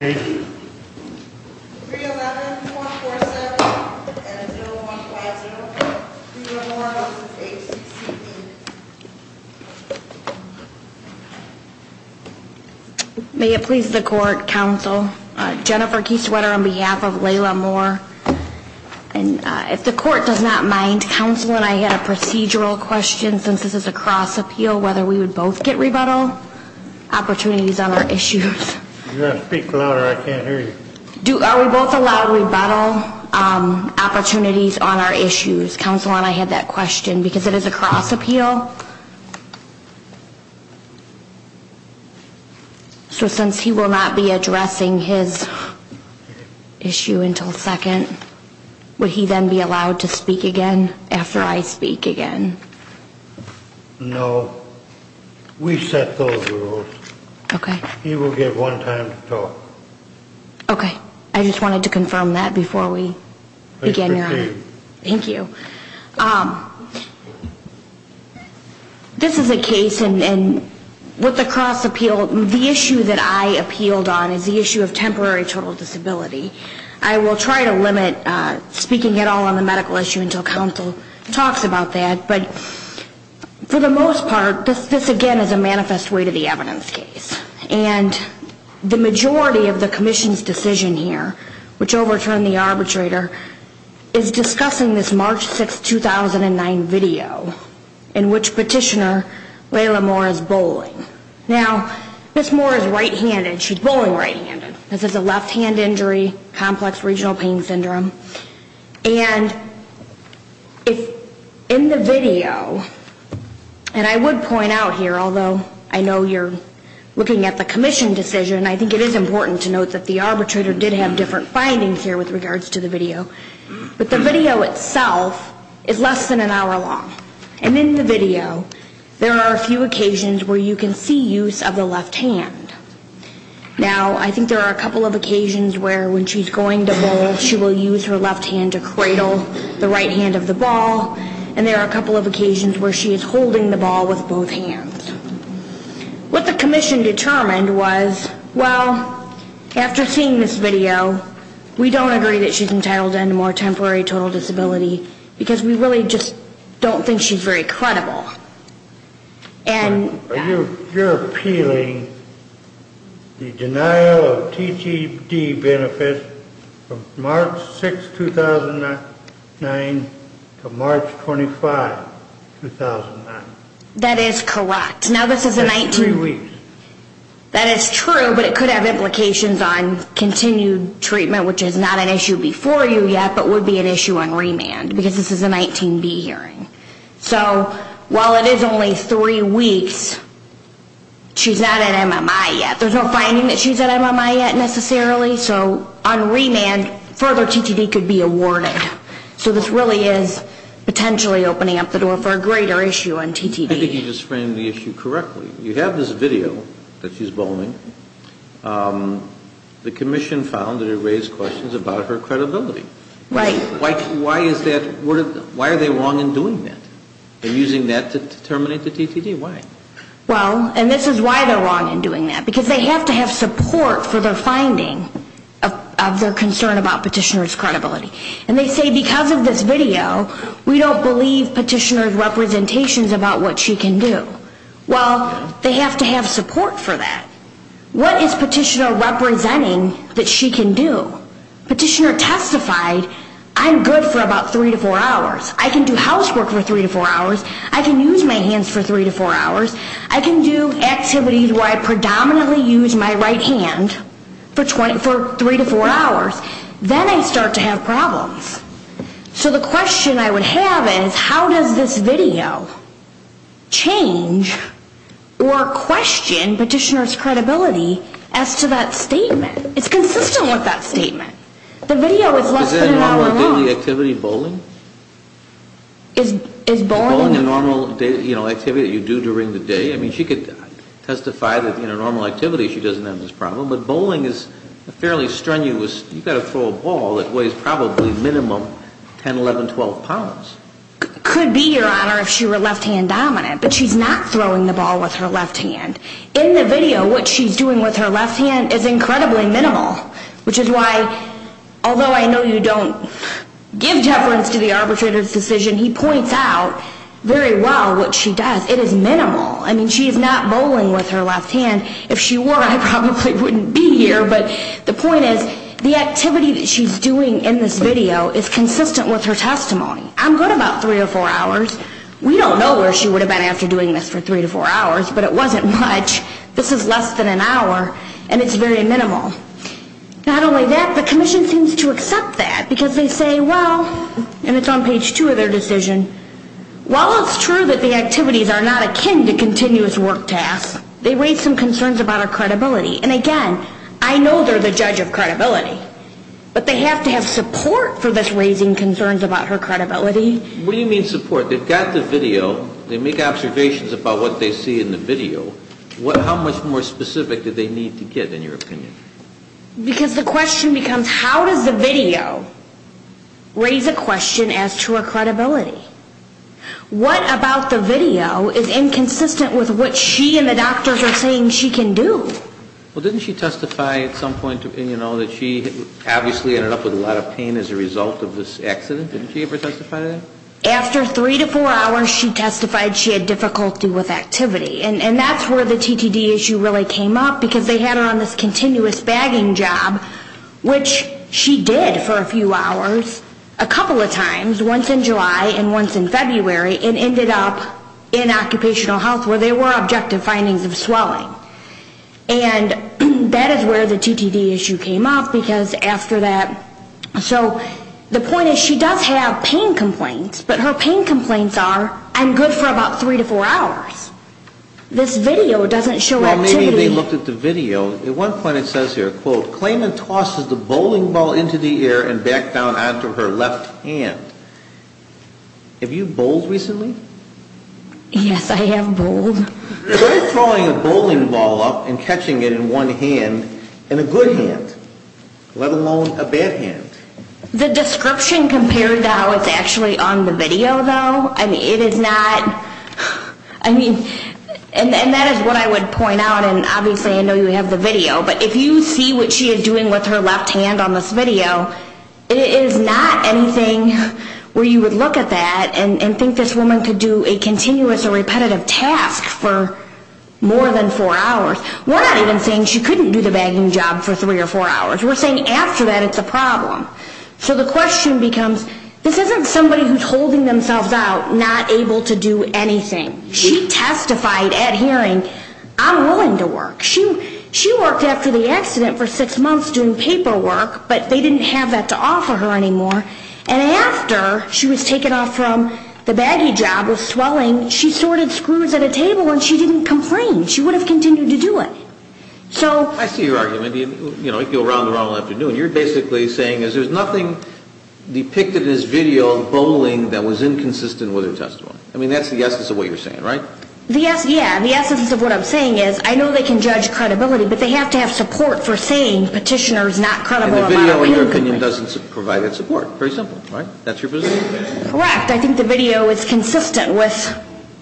May it please the Court, Counsel. Jennifer Kieswetter on behalf of Layla Moore. If the Court does not mind, Counsel and I had a procedural question, since this is a cross-appeal, whether we would both get rebuttal opportunities on our issues. Are we both allowed rebuttal opportunities on our issues? Counsel and I had that question because it is a cross-appeal. So since he will not be addressing his issue until second, would he then be allowed to speak again after I speak again? No. We set those rules. Okay. He will get one time to talk. Okay. I just wanted to confirm that before we begin, Your Honor. Please proceed. Thank you. This is a case and with the cross-appeal, the issue that I appealed on is the issue of temporary total disability. I will try to limit speaking at all on the medical issue until Counsel talks about that. But for the most part, this again is a manifest way to the evidence case. And the majority of the Commission's decision here, which overturned the arbitrator, is discussing this March 6, 2009 video in which Petitioner Layla Moore is bowling. Now, Miss Moore has left hand injury, complex regional pain syndrome. And in the video, and I would point out here, although I know you're looking at the Commission decision, I think it is important to note that the arbitrator did have different findings here with regards to the video. But the video itself is less than an hour long. And in the video, there are a few occasions where you can see use of the left hand. Now, I think there are a couple of occasions where when she's going to bowl, she will use her left hand to cradle the right hand of the ball. And there are a couple of occasions where she is holding the ball with both hands. What the Commission determined was, well, after seeing this video, we don't agree that she's entitled to end more temporary total disability because we really just don't think she's very credible. And you're appealing the denial of TGD benefits from March 6, 2009 to March 25, 2009. That is correct. Now, this is a 19. That is true, but it could have implications on continued treatment, which is not an issue before you remand, because this is a 19B hearing. So while it is only three weeks, she's not at MMI yet. There's no finding that she's at MMI yet necessarily. So on remand, further TGD could be awarded. So this really is potentially opening up the door for a greater issue on TGD. I think you just framed the issue correctly. You have this video that she's bowling. The they wrong in doing that? They're using that to terminate the TGD. Why? Well, and this is why they're wrong in doing that. Because they have to have support for their finding of their concern about petitioner's credibility. And they say because of this video, we don't believe petitioner's representations about what she can do. Well, they have to have support for that. What is petitioner representing that she can do? Petitioner testified, I'm good for about three to four hours. I can do housework for three to four hours. I can use my hands for three to four hours. I can do activities where I predominantly use my right hand for three to four hours. Then I start to have problems. So the question I would have is, how does this video change or question petitioner's credibility as to that statement? It's consistent with that statement. The video is less than an hour long. Is that a normal daily activity, bowling? Is bowling a normal activity that you do during the day? I mean, she could testify that in a normal activity, she doesn't have this problem. But bowling is fairly strenuous. You've got to throw a ball that weighs probably minimum 10, 11, 12 pounds. Could be, Your Honor, if she were left-hand dominant. But she's not throwing the ball with her left hand. In the video, what she's doing with her left hand is incredibly minimal. Which is why, although I know you don't give deference to the arbitrator's decision, he points out very well what she does. It is minimal. I mean, she is not bowling with her left hand. If she were, I probably wouldn't be here. But the point is, the activity that she's doing in this video is consistent with her testimony. I'm good about three or four hours. We don't know where she would have been after doing this for three to four hours. But it wasn't much. This is less than an hour. And it's very minimal. Not only that, the Commission seems to accept that. Because they say, well, and it's on page two of their decision, while it's true that the activities are not akin to continuous work tasks, they raise some concerns about her credibility. And again, I know they're the judge of credibility. But they have to have support for this raising concerns about her credibility. What do you mean support? They've got the video. They make observations about what they see in the video. How much more specific do they need to get, in your opinion? Because the question becomes, how does the video raise a question as to her credibility? What about the video is inconsistent with what she and the doctors are saying she can do? Well, didn't she testify at some point, you know, that she obviously ended up with a lot of pain as a result of this accident? Didn't she ever testify to that? After three to four hours, she testified she had difficulty with activity. And that's where the TTD issue really came up, because they had her on this continuous bagging job, which she did for a few hours, a couple of times, once in July and once in February, and ended up in occupational health where there were objective findings of swelling. And that is where the TTD issue came up, because after that, so the point is, she does have pain complaints, but her pain complaints are, I'm good for about three to four hours. This video doesn't show activity. Well, maybe they looked at the video. At one point it says here, quote, Klayman tosses the bowling ball into the air and back down onto her left hand. Have you bowled recently? Yes, I have bowled. Who is throwing a bowling ball up and catching it in one hand, in a good hand, let alone a bad hand? The description compared to how it's actually on the video, though, it is not, I mean, and that is what I would point out, and obviously I know you have the video, but if you see what she is doing with her left hand on this video, it is not anything where you would look at that and think this woman could do a continuous or repetitive task for more than four hours. We're not even saying she couldn't do the bagging job for three or four hours. We're saying after that it's a problem. So the question becomes, this isn't somebody who is holding themselves out, not able to do anything. She testified at hearing, I'm willing to work. She worked after the accident for six months doing paperwork, but they didn't have that to offer her anymore. And after she was taken off from the bagging job with swelling, she sorted screws at a table and she didn't complain. She would have continued to do it. I see your argument. You go round and round all afternoon. You're basically saying there is nothing depicted in this video of bowling that was inconsistent with her testimony. I mean, that's the essence of what you're saying, right? Yes, yeah. The essence of what I'm saying is I know they can judge credibility, but they have to have support for saying petitioner is not credible. And the video, in your opinion, doesn't provide that support. Very simple, right? That's your opinion. Correct. I think the video is consistent with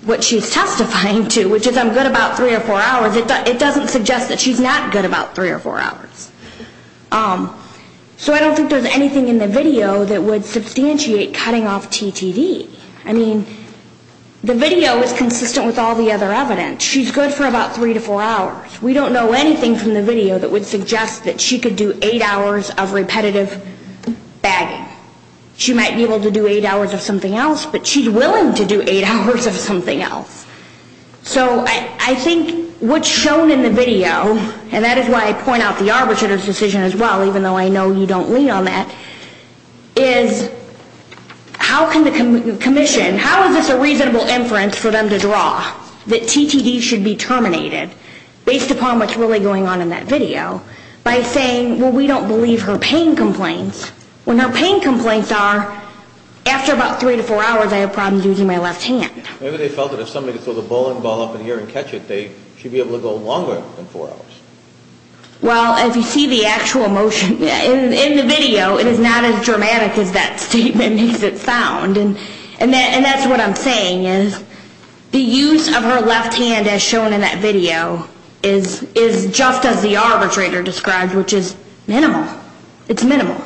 what she's testifying to, which is I'm good about three or four hours. It doesn't suggest that she's not good about three or four hours. So I don't think there's anything in the video that would substantiate cutting off TTD. I mean, the video is consistent with all the other evidence. She's good for about three to four hours. We don't know anything from the video that would suggest that she could do eight hours of repetitive bagging. She might be able to do eight hours of something else, but she's willing to do eight hours of something else. So I think what's shown in the video, and that is why I point out the arbitrator's decision as well, even though I know you don't lean on that, is how can the commission, how is this a reasonable inference for them to draw that TTD should be terminated based upon what's really going on in that video by saying, well, we don't believe her pain complaints, when her pain complaints are, after about three to four hours, I have problems using my left hand. Maybe they felt that if somebody could throw the bowling ball up in here and catch it, they should be able to go longer than four hours. Well, as you see the actual motion in the video, it is not as dramatic as that statement makes it sound. And that's what I'm saying, is the use of her left hand as shown in that video is just as the arbitrator described, which is minimal. It's minimal.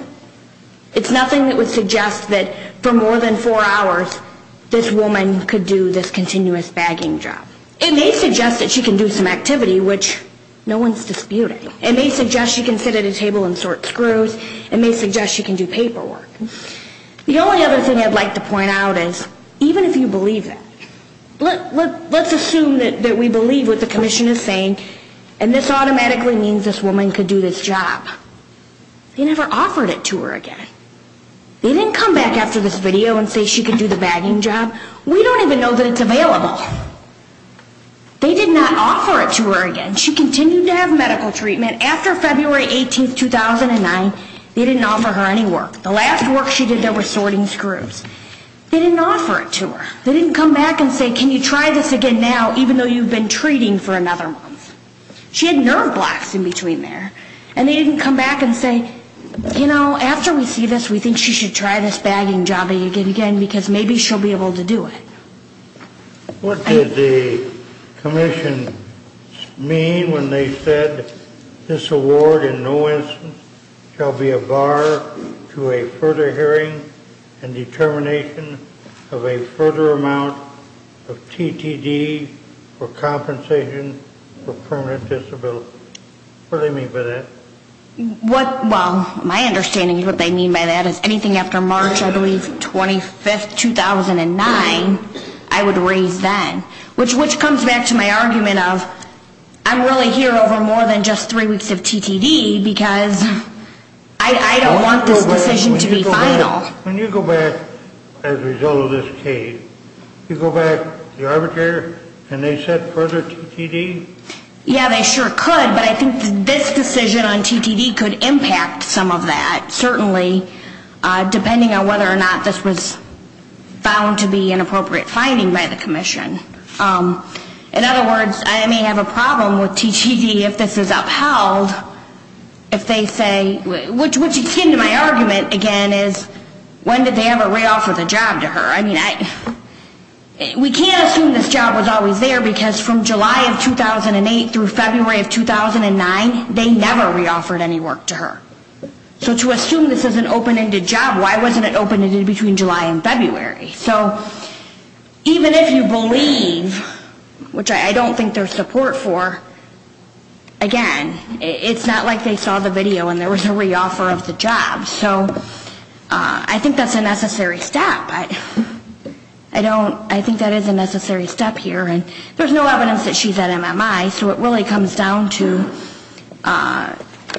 It's nothing that would suggest that for more than four hours, this woman could do this continuous bagging job. It may suggest that she can do some activity, which no one's disputing. It may suggest she can sit at a table and sort screws. It may suggest she can do paperwork. The only other thing I'd like to point out is, even if you believe that, let's assume that we believe what the commission is saying, and this automatically means this woman could do this job. They never offered it to her again. They didn't come back after this video and say she could do the bagging job. We don't even know that it's available. They did not offer it to her again. She continued to have medical treatment. After February 18, 2009, they didn't offer her any work. The last work she did, they were sorting screws. They didn't offer it to her. They didn't come back and say, can you try this again now, even though you've been treating for another month? She had nerve blocks in between there. And they didn't come back and say, you know, after we see this, we think she should try this bagging job again, because maybe she'll be able to do it. What did the commission mean when they said, this award in no instance shall be a bar to a further hearing and determination of a further amount of TTD for compensation for permanent disability? What do they mean by that? My understanding is what they mean by that is anything after March, I believe, 25, 2009, I would raise then, which comes back to my argument of, I'm really here over more than three weeks of TTD, because I don't want this decision to be final. When you go back, as a result of this case, you go back to the arbitrator, can they set further TTD? Yeah, they sure could, but I think this decision on TTD could impact some of that, certainly, depending on whether or not this was found to be an appropriate finding by the commission. In other words, I may have a problem with being upheld if they say, which is akin to my argument again, is when did they ever re-offer the job to her? I mean, we can't assume this job was always there, because from July of 2008 through February of 2009, they never re-offered any work to her. So to assume this is an open-ended job, why wasn't it open-ended between July and February? So even if you believe, which I don't think there's support for, again, it's not like they saw the video and there was a re-offer of the job. So I think that's a necessary step, but I don't, I think that is a necessary step here. And there's no evidence that she's at MMI, so it really comes down to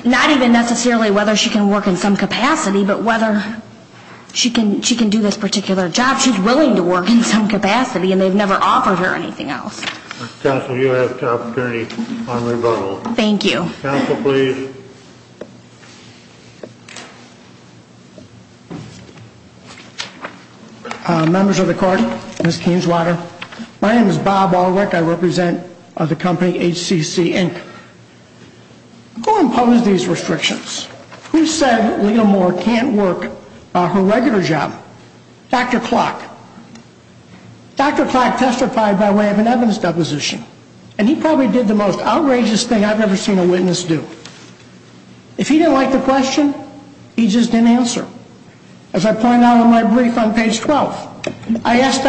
not even necessarily whether she can work in some capacity, but whether she can do this particular job. She's willing to work in some capacity, and they've never offered her anything else. Mr. Counsel, you have the opportunity on rebuttal. Thank you. Counsel, please. Members of the Court, Ms. Kingswater, my name is Bob Alwick. I represent the company HCC Inc. Who imposed these restrictions? Who said Leah Moore can't work her regular job? Dr. Clack testified by way of an evidence deposition, and he probably did the most outrageous thing I've ever seen a witness do. If he didn't like the question, he just didn't answer. As I point out in my brief on page 12, I asked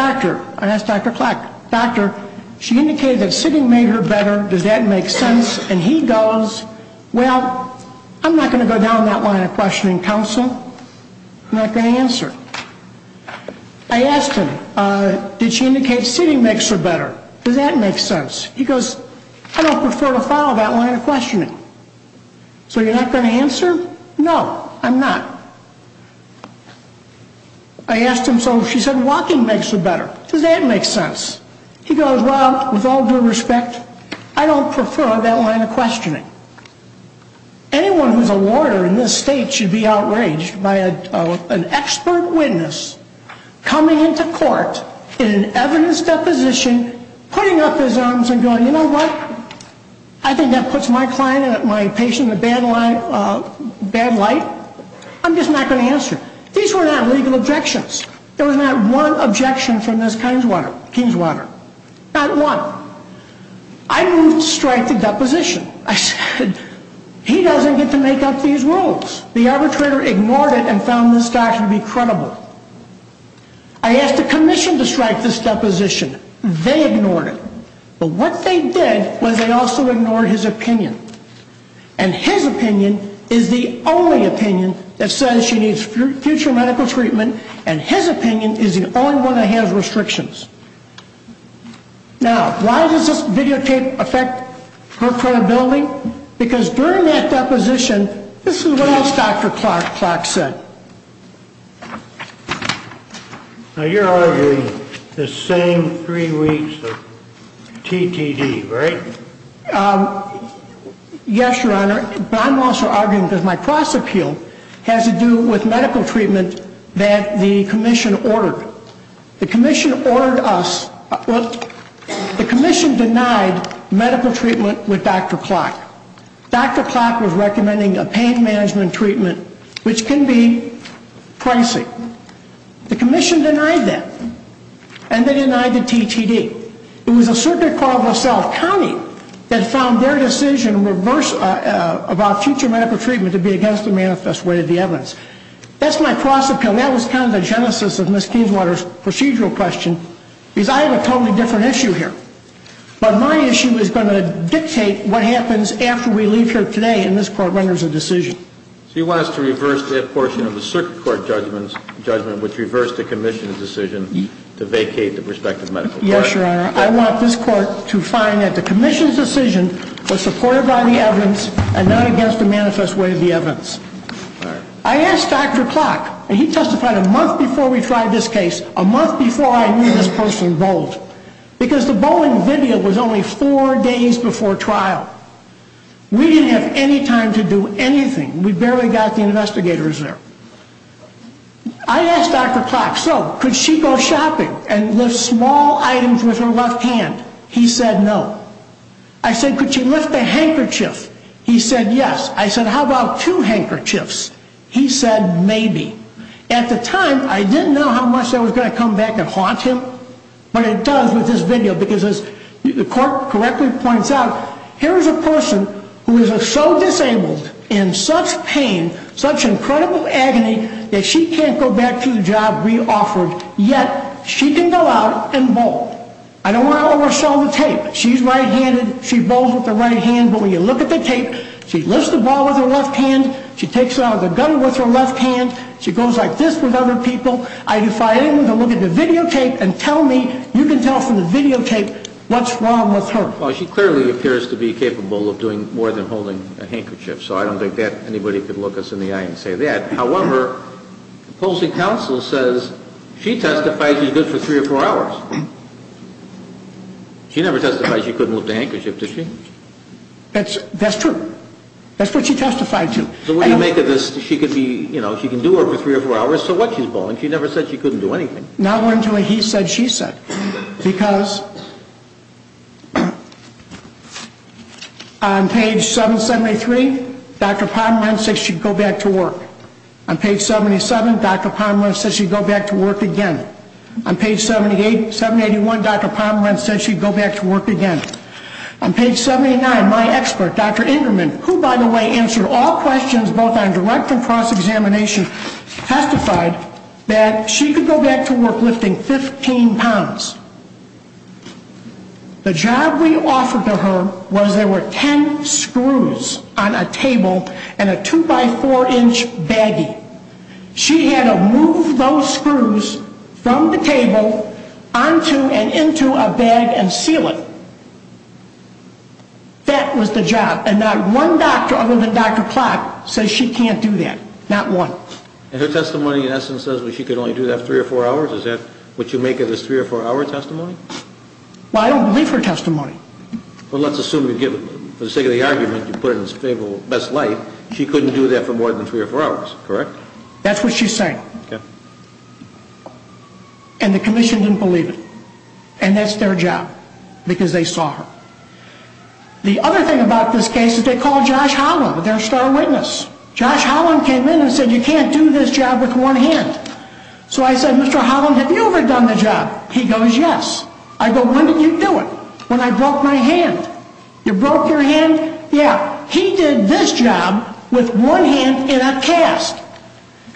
Dr. Clack, she indicated that sitting made her better, does that make sense? And he goes, well, I'm not going to go down that line of questioning, Counsel. I'm not going to answer. I asked him, did she indicate sitting makes her better? Does that make sense? He goes, I don't prefer to follow that line of questioning. So you're not going to answer? No, I'm not. I asked him, so she said walking makes her better. Does that make sense? He goes, well, with all due respect, I don't prefer that line of questioning. Anyone who's a lawyer in this state should be outraged by an expert witness coming into court in an evidence deposition, putting up his arms and going, you know what? I think that puts my client and my patient in a bad light. I'm just not going to answer. These were not legal objections. There was not one objection from this Kingswater. Not one. I moved to strike the deposition. I said, he doesn't get to make up these rules. The arbitrator ignored it and found this doctor to be credible. I asked the commission to strike this deposition. They ignored it. But what they did was they also ignored his opinion. And his opinion is the only opinion that says she needs future medical treatment, and his opinion is the only one that has medical restrictions. Now, why does this videotape affect her credibility? Because during that deposition, this is what else Dr. Clark said. Now, you're arguing the same three weeks of TTD, right? Yes, Your Honor. But I'm also arguing because my cross appeal has to do with medical treatment that the commission ordered. The commission ordered us, the commission denied medical treatment with Dr. Clark. Dr. Clark was recommending a pain management treatment, which can be pricey. The commission denied that. And they denied the TTD. It was a circuit called LaSalle County that found their decision about future medical treatment to be against the manifest way of the evidence. That's my cross appeal. That was kind of the genesis of Ms. Kingswater's procedural question. Because I have a totally different issue here. But my issue is going to dictate what happens after we leave here today, and this Court renders a decision. So you want us to reverse that portion of the circuit court judgment, which reversed the commission's decision to vacate the prospective medical treatment? Yes, Your Honor. I want this Court to find that the commission's decision was supported by the evidence and not against the manifest way of the evidence. I asked Dr. Clark, and he testified a month before we tried this case, a month before I knew this person bowled. Because the bowling video was only four days before trial. We didn't have any time to do anything. We barely got the investigators there. I asked Dr. Clark, so could she go shopping and lift small items with her left hand? He said no. I said, could she lift a handkerchief? He said yes. I said, how about two handkerchiefs? He said maybe. At the time, I didn't know how much that was going to come back and haunt him, but it does with this video. Because as the Court correctly points out, here is a person who is so disabled, in such pain, such incredible agony, that she can't go back to the job we offered, yet she can go out and bowl. I don't want to oversell the tape. She's right-handed, she bowls with the right hand, but when you look at the tape, she lifts the ball with her left hand, she takes it out of the gutter with her left hand, she goes like this with other people. If I am to look at the videotape and tell me, you can tell from the videotape what's wrong with her. Well, she clearly appears to be capable of doing more than holding a handkerchief. So I don't think that anybody could look us in the eye and say that. However, the opposing counsel says she testified she's good for three or four hours. She never testified she couldn't lift a handkerchief, did she? That's true. That's what she testified to. So what do you make of this? She can do it for three or four hours, so what? She's bowling. She never said she couldn't do anything. Now we're into a he said, she said. Because on page 773, Dr. Pomerantz said she'd go back to work. On page 77, Dr. Pomerantz said she'd go back to work again. On page 781, Dr. Pomerantz said she'd go back to work again. On page 79, my expert, Dr. Ingerman, who, by the way, answered all questions, both on direct and cross-examination, testified that she could go back to work lifting 15 pounds. The job we offered to her was there were ten screws on a table and a two-by-four-inch baggie. She had to move those screws from the table onto and into a bag and seal it. That was the job, and not one doctor other than Dr. Plott says she can't do that. Not one. And her testimony, in essence, says she could only do that three or four hours? Is that what you make of this three or four-hour testimony? Well, I don't believe her testimony. Well, let's assume for the sake of the argument, you put it in the best light, she couldn't do that for more than three or four hours, correct? That's what she's saying. Okay. And the commission didn't believe it. And that's their job, because they saw her. The other thing about this case is they called Josh Holland, their star witness. Josh Holland came in and said, you can't do this job with one hand. So I said, Mr. Holland, have you ever done the job? He goes, yes. I go, when did you do it? When I broke my hand. You broke your hand? Yeah. He did this job with one hand in a cast.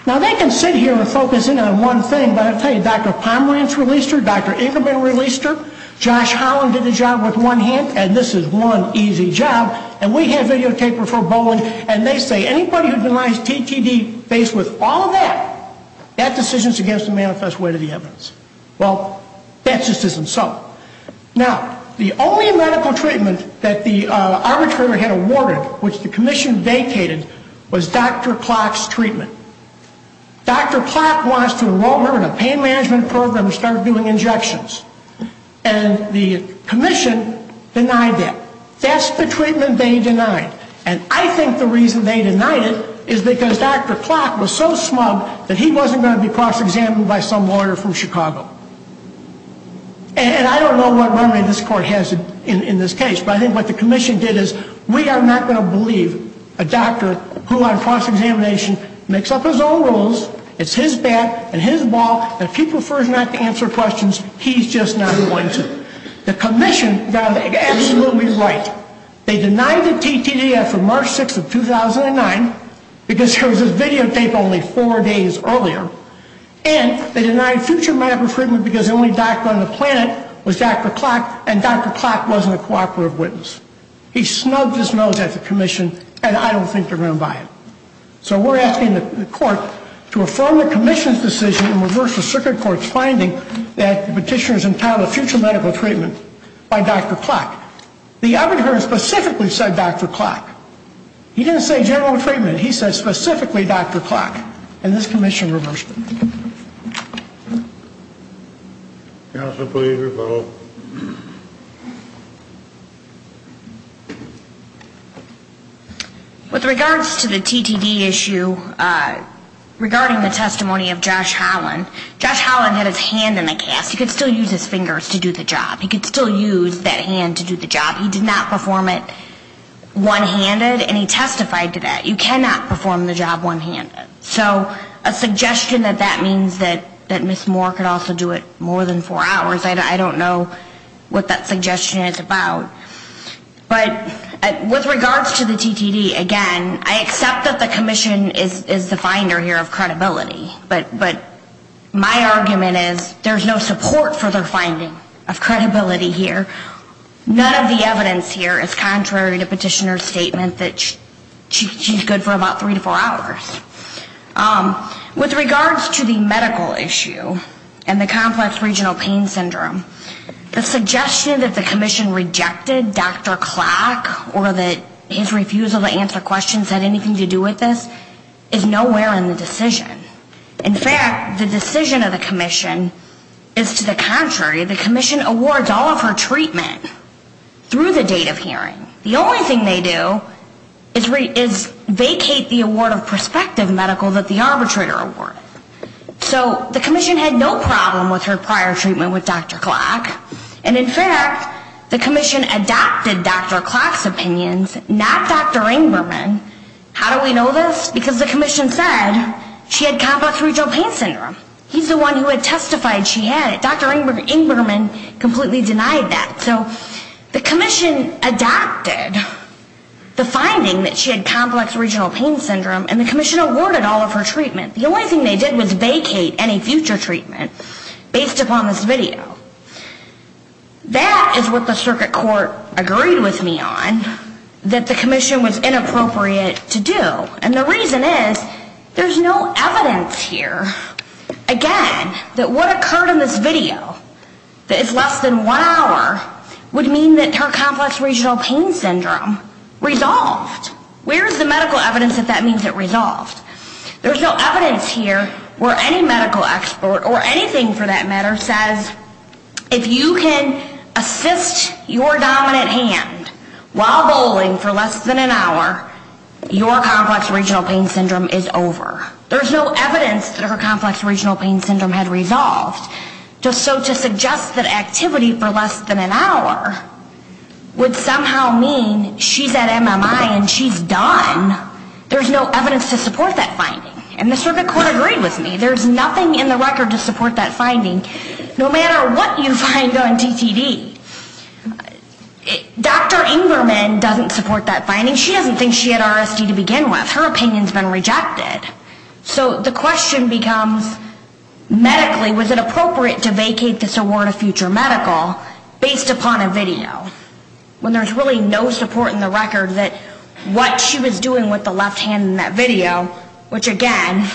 Now, they can sit here and focus in on one thing, but I'll tell you, Dr. Pomerantz released her, Dr. Ingram released her, Josh Holland did the job with one hand, and this is one easy job, and we have videotaper for Bowling, and they say anybody who denies TTD based with all of that, that decision is against the manifest weight of the evidence. Well, that just isn't so. Now, the only medical treatment that the arbitrator had awarded, which the commission vacated, was Dr. Klock's treatment. Dr. Klock wants to enroll her in a pain management program and start doing injections. And the commission denied that. That's the treatment they denied. And I think the reason they denied it is because Dr. Klock was so smug that he wasn't going to be cross-examined by some lawyer from Chicago. And I don't know what remedy this court has in this case, but I think what the commission did is we are not going to believe a doctor who on cross-examination makes up his own rules, it's his bat and his ball, and if he prefers not to answer questions, he's just not going to. The commission got absolutely right. They denied the TTD after March 6th of 2009 because there was this videotape only four days earlier, and they denied future medical treatment because the only doctor on the planet was Dr. Klock, and Dr. Klock wasn't a cooperative witness. He snubbed his nose at the commission, and I don't think they're going to buy it. So we're asking the court to affirm the commission's decision and reverse the circuit court's finding that petitioners entitled to future medical treatment by Dr. Klock. The arbitrator specifically said Dr. Klock. He didn't say general treatment. He said specifically Dr. Klock. And this commission reversed it. Counsel, please rebuttal. With regards to the TTD issue, regarding the testimony of Josh Holland, Josh Holland had his hand in the cast. He could still use his fingers to do the job. He could still use that hand to do the job. He did not perform it one-handed, and he testified to that. You cannot perform the job one-handed. So a suggestion that that means that Ms. Moore could also do it more than four hours, I don't know what that suggestion is about. But with regards to the TTD, again, I accept that the commission is the finder here of credibility, but my argument is there's no support for their finding of credibility here. None of the evidence here is contrary to petitioner's statement that she's good for about three to four hours. With regards to the medical issue and the complex regional pain syndrome, the suggestion that the commission rejected Dr. Klock or that his refusal to answer questions had anything to do with this is nowhere in the decision. In fact, the decision of the commission is to the contrary. The commission awards all of her treatment through the date of hearing. The only thing they do is vacate the award of prospective medical that the arbitrator awarded. So the commission had no problem with her prior treatment with Dr. Klock, and in fact, the commission adopted Dr. Klock's opinions, not Dr. Ingberman. How do we know this? Because the commission said she had complex regional pain syndrome. He's the one who had testified she had it. Dr. Ingberman completely denied that. So the commission adopted the finding that she had complex regional pain syndrome, and the commission awarded all of her treatment. The only thing they did was vacate any future treatment based upon this video. That is what the circuit court agreed with me on that the commission was inappropriate to do, and the reason is there's no evidence here, again, that what occurred in this video, that it's less than one hour, would mean that her complex regional pain syndrome resolved. Where is the medical evidence that that means it resolved? There's no evidence here where any medical expert, or anything for that matter, says if you can assist your dominant hand while bowling for less than an hour, your complex regional pain syndrome is over. There's no evidence that her complex regional pain syndrome had resolved. So to suggest that activity for less than an hour would somehow mean she's at MMI and she's done, there's no evidence to support that finding. And the circuit court agreed with me. There's nothing in the record to support that finding, no matter what you find on TTD. Dr. Ingberman doesn't support that finding. She doesn't think she had RSD to begin with. Her opinion has been rejected. So the question becomes medically was it appropriate to vacate this award of future medical based upon a video, when there's really no support in the record that what she was doing with the left hand in that video, which again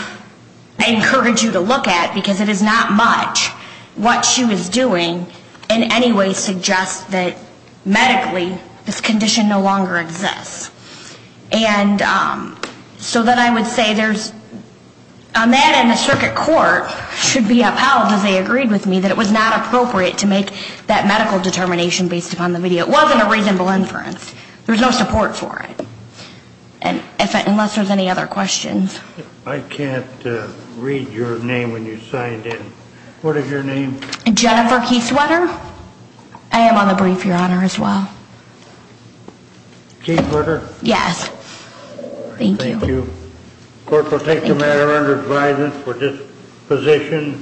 I encourage you to look at because it is not much, what she was doing in any way suggests that medically this condition no longer exists. And so then I would say there's, a man in the circuit court should be upheld as they agreed with me that it was not appropriate to make that medical determination based upon the video. It wasn't a reasonable inference. There's no support for it. Unless there's any other questions. I can't read your name when you signed in. What is your name? Jennifer Kieswetter. I am on the brief, Your Honor, as well. Kieswetter? Yes. Thank you. Thank you. Court will take the matter under advisement for disposition.